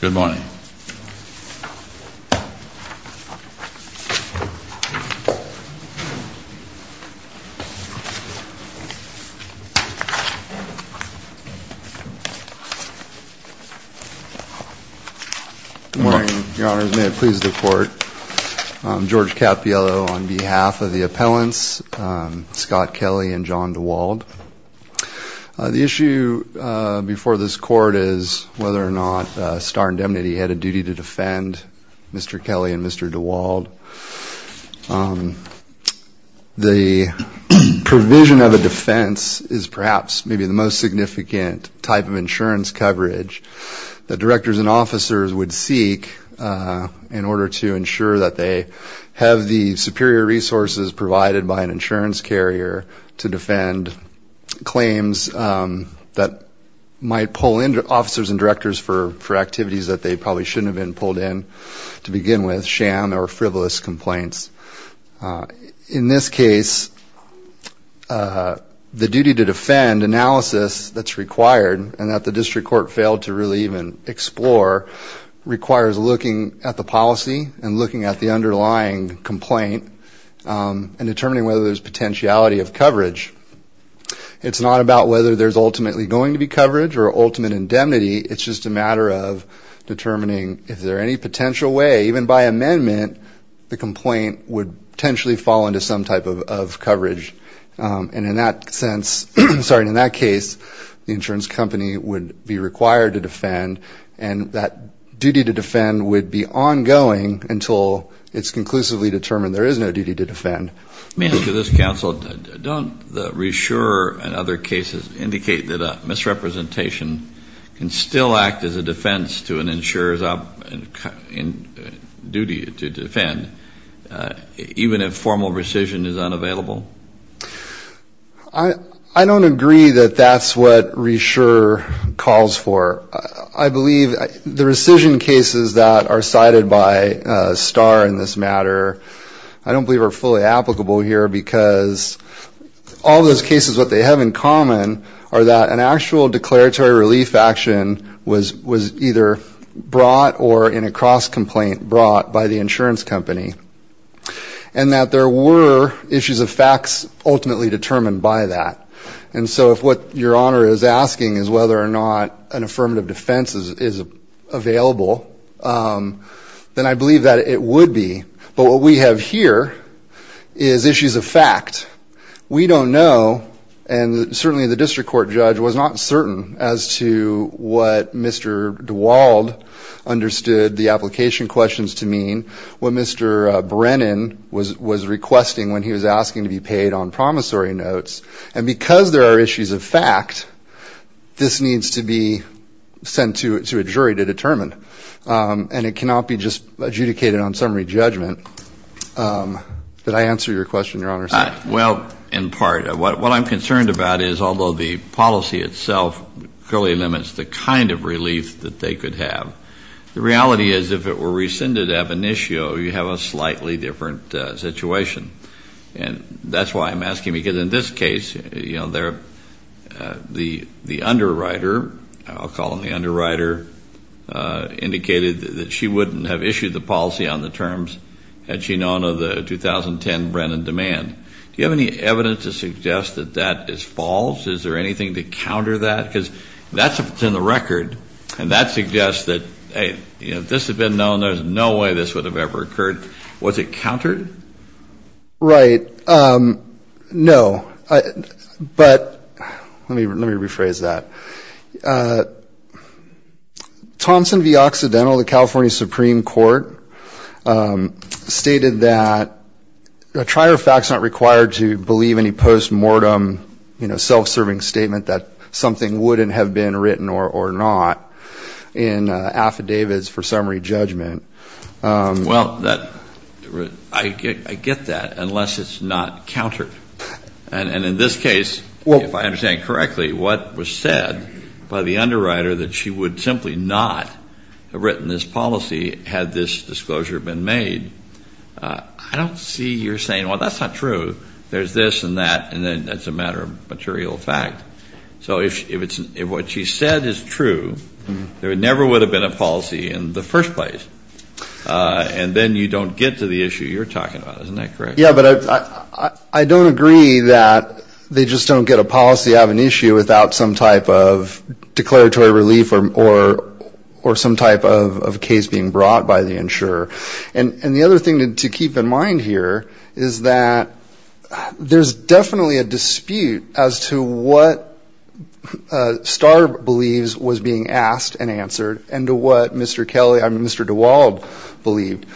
Good morning. May it please the Court, I'm George Cappiello on behalf of the appellants Scott Kelly and John DeWald. The issue before this court is whether or not Starr Indemnity had a duty to defend Mr. Kelly and Mr. DeWald. The provision of a defense is perhaps maybe the most significant type of insurance coverage that directors and officers would seek in order to ensure that they have the insurance carrier to defend claims that might pull into officers and directors for for activities that they probably shouldn't have been pulled in to begin with sham or frivolous complaints. In this case the duty to defend analysis that's required and that the district court failed to really even explore requires looking at the policy and looking at the underlying complaint and determining whether there's potentiality of coverage. It's not about whether there's ultimately going to be coverage or ultimate indemnity it's just a matter of determining if there any potential way even by amendment the complaint would potentially fall into some type of coverage and in that sense, sorry, in that case the insurance company would be required to defend and that duty to defend would be ongoing until it's conclusively determined there is no duty to defend. May I ask you this counsel, don't the reissuer and other cases indicate that a misrepresentation can still act as a defense to an insurer's duty to defend even if formal rescission is unavailable? I don't agree that that's what reissuer calls for. I believe the rescission cases that are cited by Starr in this matter I don't believe are fully applicable here because all those cases what they have in common are that an actual declaratory relief action was was either brought or in a cross-complaint brought by the insurance company and that there were issues of facts ultimately determined by that and so if what your honor is asking is whether or not an affirmative defense is available then I believe that it would be but what we have here is issues of fact. We don't know and certainly the district court judge was not certain as to what Mr. DeWald understood the application questions to mean, what Mr. Brennan was was requesting when he was asking to be paid on promissory notes and because there are issues of fact this needs to be sent to it to a jury to determine and it cannot be just adjudicated on summary judgment. Did I answer your question your honor? Well in part what I'm concerned about is although the policy itself clearly limits the kind of relief that they could have the reality is if it were rescinded of an issue you have a you know they're the the underwriter I'll call him the underwriter indicated that she wouldn't have issued the policy on the terms had she known of the 2010 Brennan demand. Do you have any evidence to suggest that that is false is there anything to counter that because that's in the record and that suggests that hey you know this had been known there's no way this would have ever occurred was it countered? Right no but let me let me rephrase that Thompson v. Occidental the California Supreme Court stated that a trier of facts not required to believe any postmortem you know self-serving statement that something wouldn't have been written or not in affidavits for summary judgment. Well that I get that unless it's not countered and in this case well if I understand correctly what was said by the underwriter that she would simply not have written this policy had this disclosure been made I don't see you're saying well that's not true there's this and that and then that's a matter of material fact so if it's what she said is true there never would have been a policy in the first place and then you don't get to the issue you're talking about isn't that correct? Yeah but I I don't agree that they just don't get a policy out of an issue without some type of declaratory relief or or or some type of case being brought by the insurer and and the other thing to keep in mind here is that there's definitely a dispute as to what Starr believes was being asked and answered and to what Mr. Kelly I mean Mr. DeWald believed.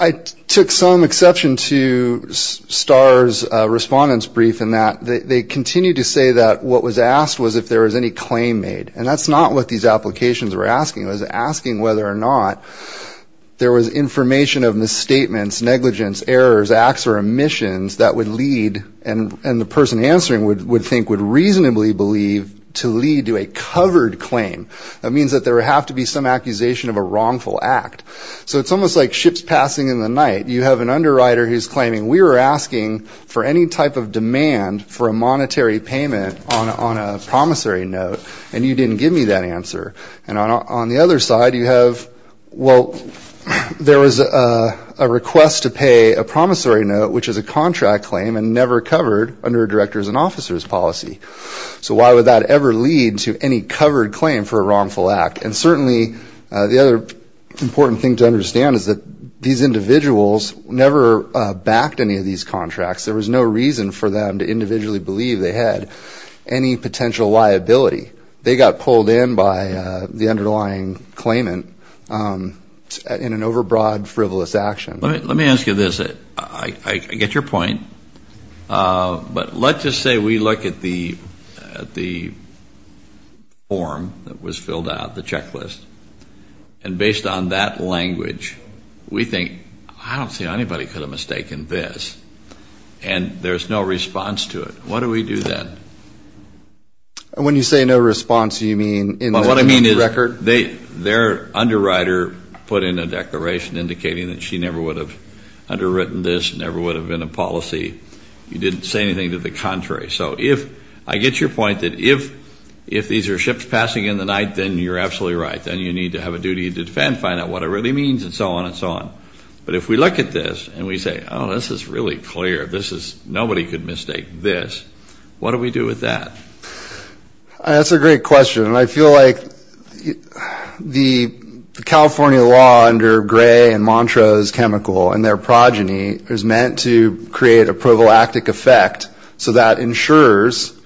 I took some exception to Starr's respondents brief in that they continue to say that what was asked was if there was any claim made and that's not what these applications were asking was asking whether or not there was information of misstatements negligence errors acts or omissions that would lead and and the person answering would would think would reasonably believe to lead to a covered claim that means that there have to be some accusation of a wrongful act so it's almost like ships passing in the night you have an underwriter who's claiming we were asking for any type of demand for a monetary payment on a promissory note and you didn't give me that answer and on the other side you have well there was a request to pay a promissory note which is a contract claim and never covered under directors and officers policy so why would that ever lead to any covered claim for a wrongful act and certainly the other important thing to understand is that these individuals never backed any of these contracts there was no reason for them to individually believe they had any potential liability they got pulled in by the underlying claimant in an overbroad frivolous action let me ask you this it I get your point but let's just say we look at the the form that was filled out the checklist and based on that language we think I don't see anybody could have mistaken this and there's no response to it what do we do then and when you say no response you mean in what I mean is record they their underwriter put in a declaration indicating that she never would have underwritten this never would have been a policy you didn't say anything to the contrary so if I get your point that if if these are ships passing in the night then you're absolutely right then you need to have a duty to defend find out what it really means and so on and so on but if we look at this and we say oh this is really clear this is nobody could mistake this what do we do with that that's a great question and I feel like the California law under gray and Montrose chemical and their progeny is meant to create a proval active effect so that insurers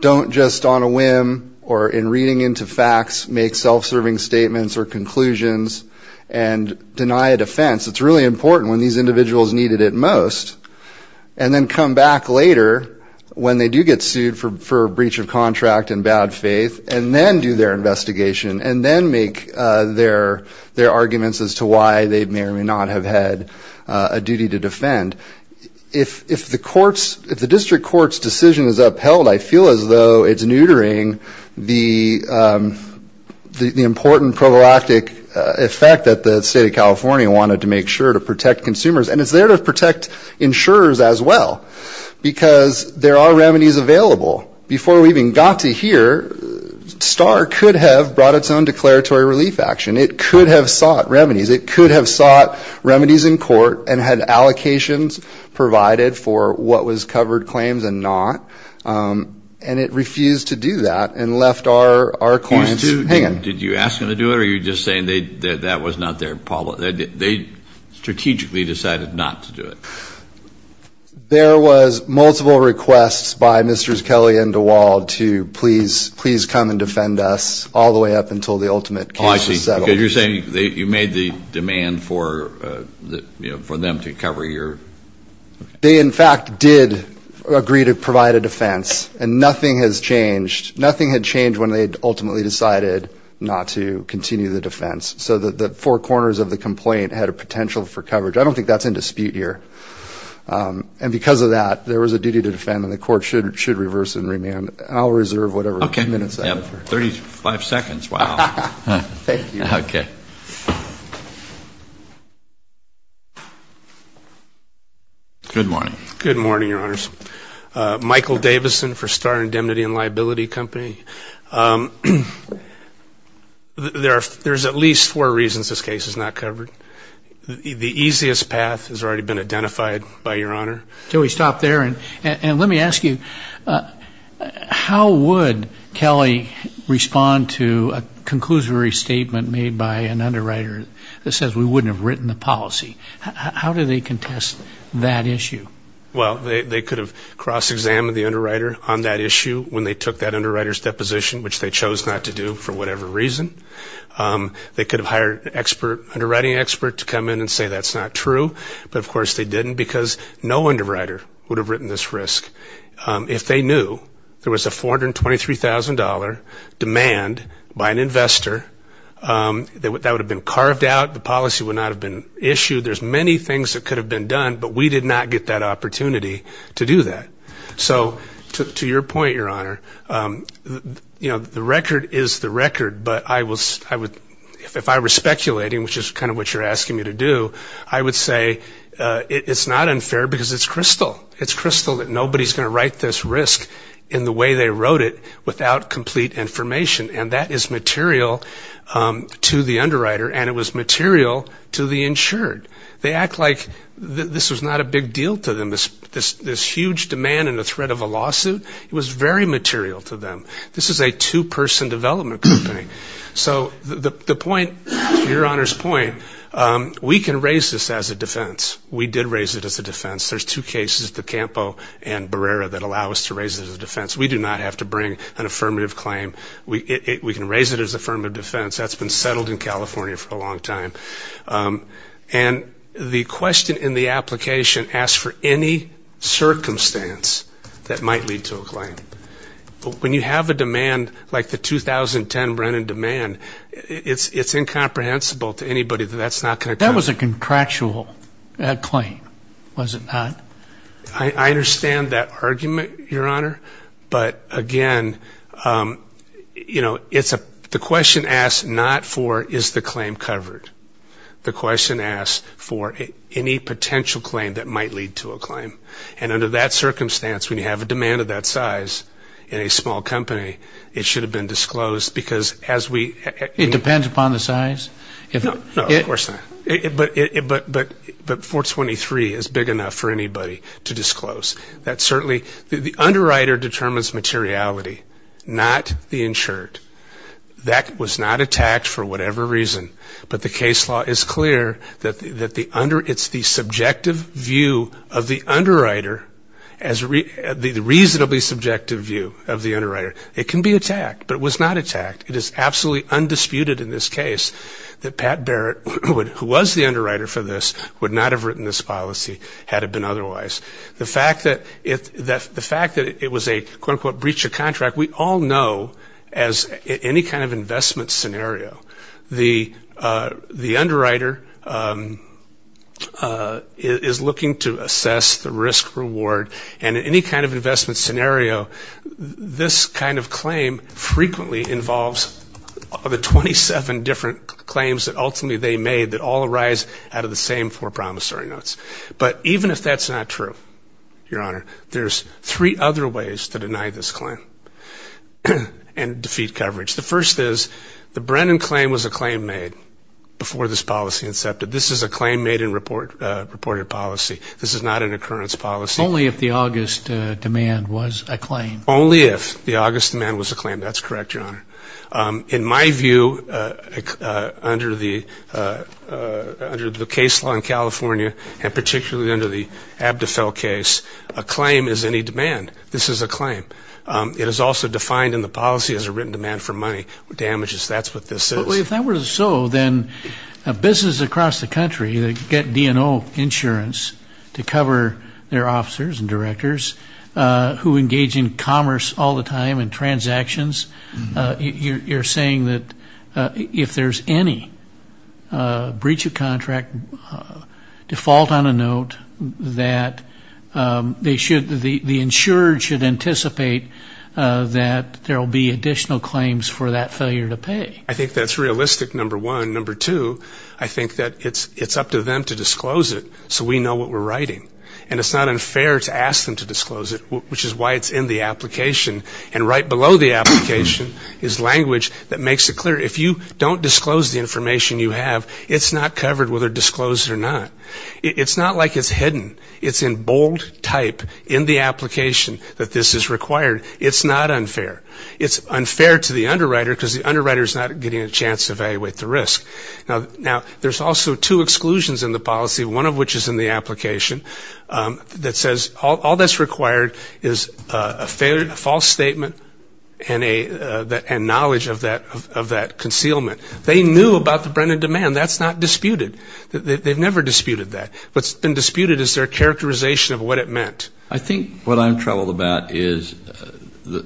don't just on a whim or in reading into facts make self-serving statements or conclusions and deny it a fence it's really important when these individuals needed it most and then come back later when they do get sued for a breach of contract and bad faith and then do their investigation and then make their their arguments as to why they may or may not have had a duty to defend if if the courts if the district courts decision is upheld I feel as though it's neutering the the important problematic effect that the state of California wanted to make sure to protect consumers and it's there to protect insurers as well because there are remedies available before we even got to here star could have brought its own declaratory relief action it could have sought remedies it could have sought remedies in court and had allocations provided for what was covered claims and not and it refused to do that and left our our clients to did you ask him to do it or you're just saying they that was not their problem they strategically decided not to do it there was multiple requests by mrs. Kelly and the wall to please please come and defend us all the way up until the ultimate policy so you're saying they you made the demand for that you know for them to cover your they in fact did agree to provide a defense and nothing has changed nothing had changed when they ultimately decided not to continue the defense so that the four corners of the complaint had a potential for coverage I don't think that's in dispute here and because of that there was a duty to defend and the court should should reverse and remand I'll reserve whatever okay minutes 35 seconds Wow okay good morning good morning your honors Michael Davison for star indemnity and liability company there there's at least four reasons this case is not covered the easiest path has already been identified by your honor till we stop there and and let me ask you how would Kelly respond to a conclusory statement made by an underwriter that says we wouldn't have written the policy how do they contest that issue well they could have cross-examined the underwriter on that issue when they took that underwriters deposition which they chose not to do for whatever reason they could have hired expert underwriting expert to come in and say that's not true but of course they didn't because no underwriter would have written this risk if they knew there was a four that would have been carved out the policy would not have been issued there's many things that could have been done but we did not get that opportunity to do that so to your point your honor you know the record is the record but I was I would if I were speculating which is kind of what you're asking me to do I would say it's not unfair because it's crystal it's crystal that nobody's gonna write this risk in the way they wrote it without complete information and that is material to the underwriter and it was material to the insured they act like this was not a big deal to them this this this huge demand and the threat of a lawsuit it was very material to them this is a two-person development company so the point your honor's point we can raise this as a defense we did raise it as a defense there's two cases the Campo and Barrera that allow us to raise it as a defense we do not have to bring an affirmative claim we can raise it as a firm of defense that's been settled in California for a long time and the question in the application asked for any circumstance that might lead to a claim but when you have a demand like the 2010 Brennan demand it's it's incomprehensible to anybody that that's not gonna that was a contractual that claim was it not I understand that argument your honor but again you know it's a the question asked not for is the claim covered the question asked for any potential claim that might lead to a claim and under that circumstance when you have a demand of that size in a small company it should have been disclosed because as we it depends upon the size but it but but but for 23 is big enough for anybody to disclose that certainly the underwriter determines materiality not the insured that was not attacked for whatever reason but the case law is clear that that the under it's the subjective view of the underwriter as the reasonably subjective view of the underwriter it can be attacked but was not attacked it is absolutely undisputed in this case that Pat Barrett who was the underwriter for this would not have written this policy had it been otherwise the fact that if the fact that it was a quote-unquote breach of contract we all know as any kind of investment scenario the the underwriter is looking to assess the risk reward and any kind of investment scenario this kind of claim frequently involves the 27 different claims that ultimately they made that all arise out of the same four promissory notes but even if that's not true your honor there's three other ways to deny this claim and defeat coverage the first is the Brennan claim was a claim made before this policy accepted this is a claim made in report reported policy this is not an occurrence policy only if the August demand was a claim only if the August man was a claim that's correct your honor in my view under the under the case law in California and particularly under the Abdefell case a claim is any demand this is a claim it is also defined in the policy as a written demand for money damages that's what this is so then a business across the country that get DNO insurance to cover their officers and directors who engage in commerce all the time and transactions you're saying that if there's any breach of contract default on a note that they should the insured should anticipate that there will be additional claims for that failure to pay I think that's realistic number one number two I think that it's it's up to them to disclose it so we know what we're writing and it's not unfair to ask them to disclose it which is why it's in the application and right below the application is language that makes it clear if you don't disclose the information you have it's not covered whether disclosed or not it's not like it's hidden it's in bold type in the application that this is required it's not unfair it's unfair to the underwriter because the underwriter is not getting a chance to evaluate the risk now now there's also two exclusions in the policy one of which is in the application that says all that's required is a failed false statement and a that and knowledge of that of that concealment they knew about the Brennan demand that's not disputed that they've never disputed that what's been disputed is their characterization of what it meant I think what I'm troubled about is that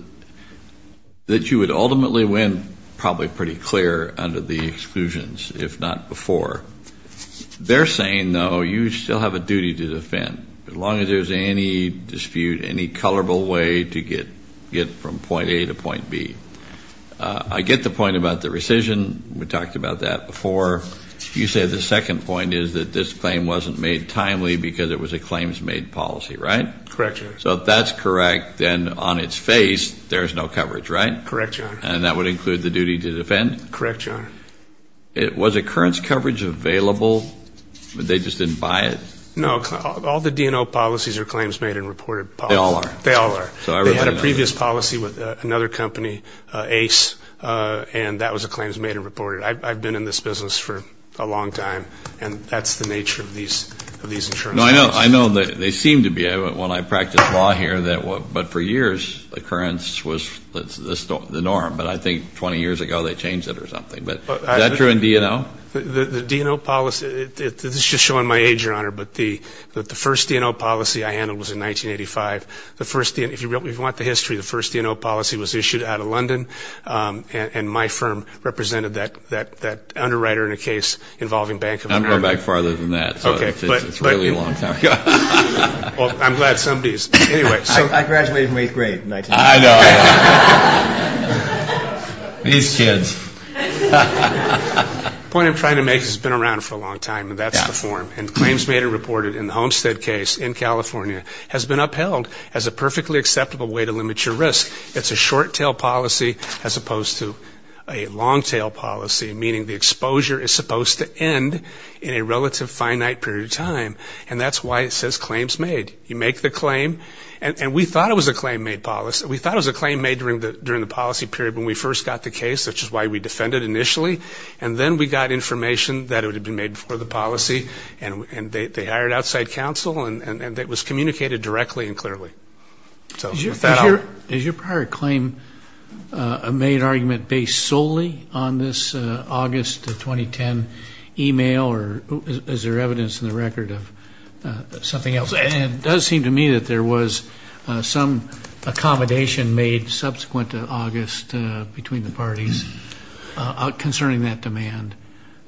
that you would ultimately win probably pretty clear under the exclusions if not before they're saying no you still have a duty to defend as long as there's any dispute any colorable way to get get from point A to point B I get the point about the rescission we talked about that before you say the second point is that this claim wasn't made timely because it was a claims made policy right correct so that's correct then on its face there's no coverage right correct and that would include the duty to defend correcture it was a current coverage available but they just didn't buy it no all the DNO policies are claims made and reported they all are they all are so I had a previous policy with another company ace and that was a claims made and reported I've been in this business for a long time and that's the nature of these of these insurance I know I know that they seem to be able to when I practice law here that what but for years the currents was the storm the norm but I think 20 years ago they changed it or do you know the DNO policy it's just showing my age your honor but the that the first DNO policy I handled was in 1985 the first in if you really want the history the first DNO policy was issued out of London and my firm represented that that that underwriter in a case involving bank number back farther than that okay but it's really long time I'm glad somebody's anyway so I graduated eighth grade these kids point I'm trying to make has been around for a long time and that's the form and claims made and reported in the Homestead case in California has been upheld as a perfectly acceptable way to limit your risk it's a short tail policy as opposed to a long tail policy meaning the and that's why it says claims made you make the claim and we thought it was a claim made policy we thought it was a claim made during the during the policy period when we first got the case that's just why we defended initially and then we got information that it would have been made before the policy and and they hired outside counsel and and it was communicated directly and clearly so your father is your prior claim a made argument based solely on this August 2010 email or is there evidence in the record of something else and does seem to me that there was some accommodation made subsequent to August between the parties out concerning that demand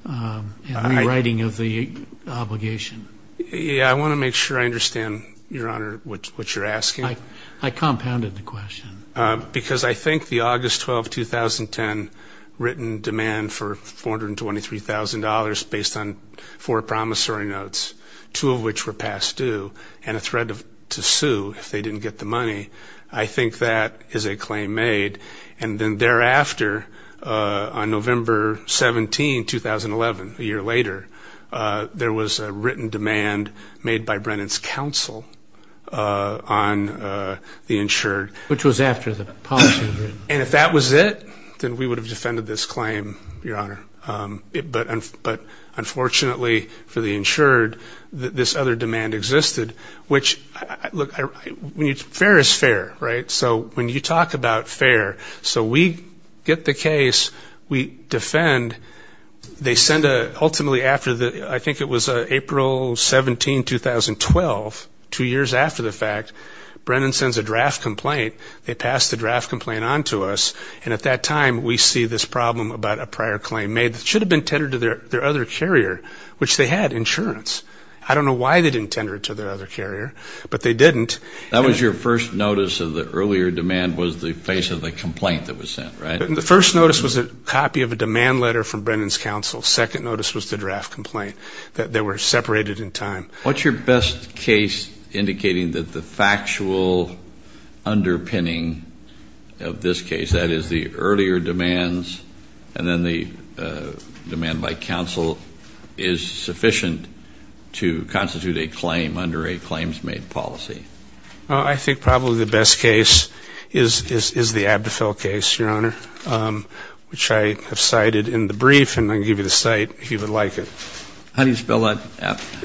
I'm writing of the obligation yeah I want to make sure I understand your honor what you're asking I compounded the question because I think the August 12 2010 written demand for $423,000 based on four promissory notes two of which were past due and a threat of to sue if they didn't get the money I think that is a claim made and then thereafter on November 17 2011 a year later there was a written demand made by Brennan's counsel on the insured which was after the and if that was it then we would have defended this claim your honor but but unfortunately for the insured that this other demand existed which look when you fair is fair right so when you talk about fair so we get the case we defend they send a ultimately after the I think it was April 17 2012 two years after the fact Brennan sends a draft complaint they pass the draft complaint on to us and at that time we see this problem about a prior claim made should have been tendered to their their other carrier which they had insurance I don't know why they didn't tender it to their other carrier but they didn't that was your first notice of the earlier demand was the face of the complaint that was sent right the first notice was a copy of a demand letter from Brennan's counsel second notice was the draft complaint that they were separated in time what's your best case indicating that the factual underpinning of this case that is the earlier demands and then the demand by counsel is sufficient to constitute a claim under a claims made policy I think probably the best case is is the Abdefell case your honor which I have cited in the brief and I give you the site if you would like it how do you spell that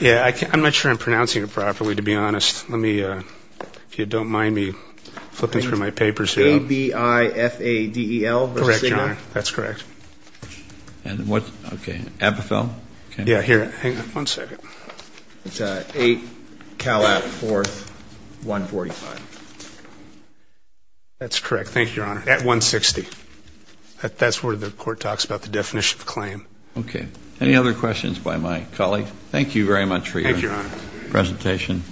yeah I can't I'm not sure I'm pronouncing it properly to be honest let me if you don't mind me flipping through my papers here A B I F A D E L correct your honor that's correct and what okay Abdefell yeah here hang on one second it's a 8 Cal at 4th 145 that's correct thank you your honor at 160 that's where the court talks about the any other questions by my colleague thank you very much for your presentation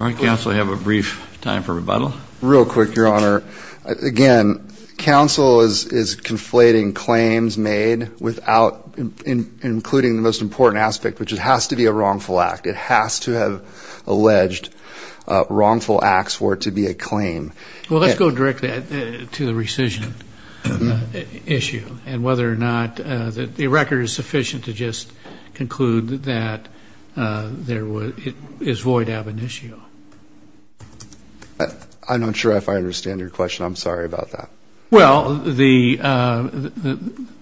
all right counsel I have a brief time for rebuttal real quick your honor again counsel is is conflating claims made without including the most important aspect which it has to be a wrongful act it has to have alleged wrongful acts for it to be a claim well let's go directly to the rescission issue and whether or not that the record is sufficient to just conclude that there was it is void ab initio I'm not sure if I understand your question I'm sorry about that well the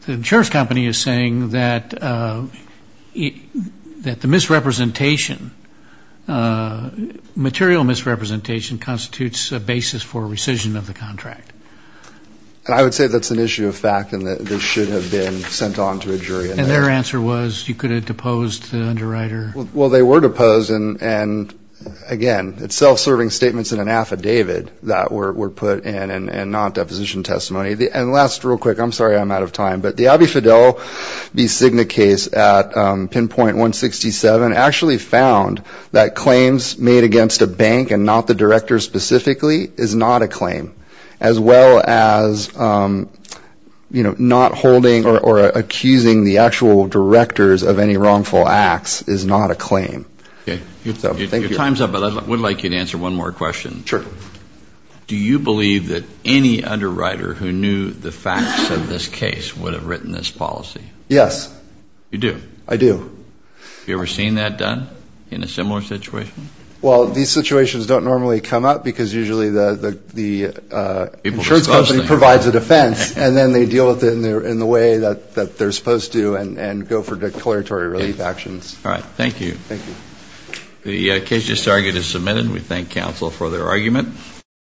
insurance company is saying that that the misrepresentation material misrepresentation constitutes a basis for rescission of the contract and I their answer was you could have deposed the underwriter well they were deposed and and again it's self-serving statements in an affidavit that were put in and not deposition testimony the and last real quick I'm sorry I'm out of time but the Abbey Fidel B Signa case at pinpoint 167 actually found that claims made against a bank and not the director specifically is not a claim as well as you know not holding or accusing the actual directors of any wrongful acts is not a claim okay thank you time's up but I would like you to answer one more question sure do you believe that any underwriter who knew the facts of this case would have written this policy yes you do I do you ever seen that done in a similar situation well these situations don't normally come up because usually the the insurance company provides a defense and then they deal with it in there in the way that that they're supposed to and and go for declaratory relief actions all right thank you thank you the case just argued is submitted we thank counsel for their argument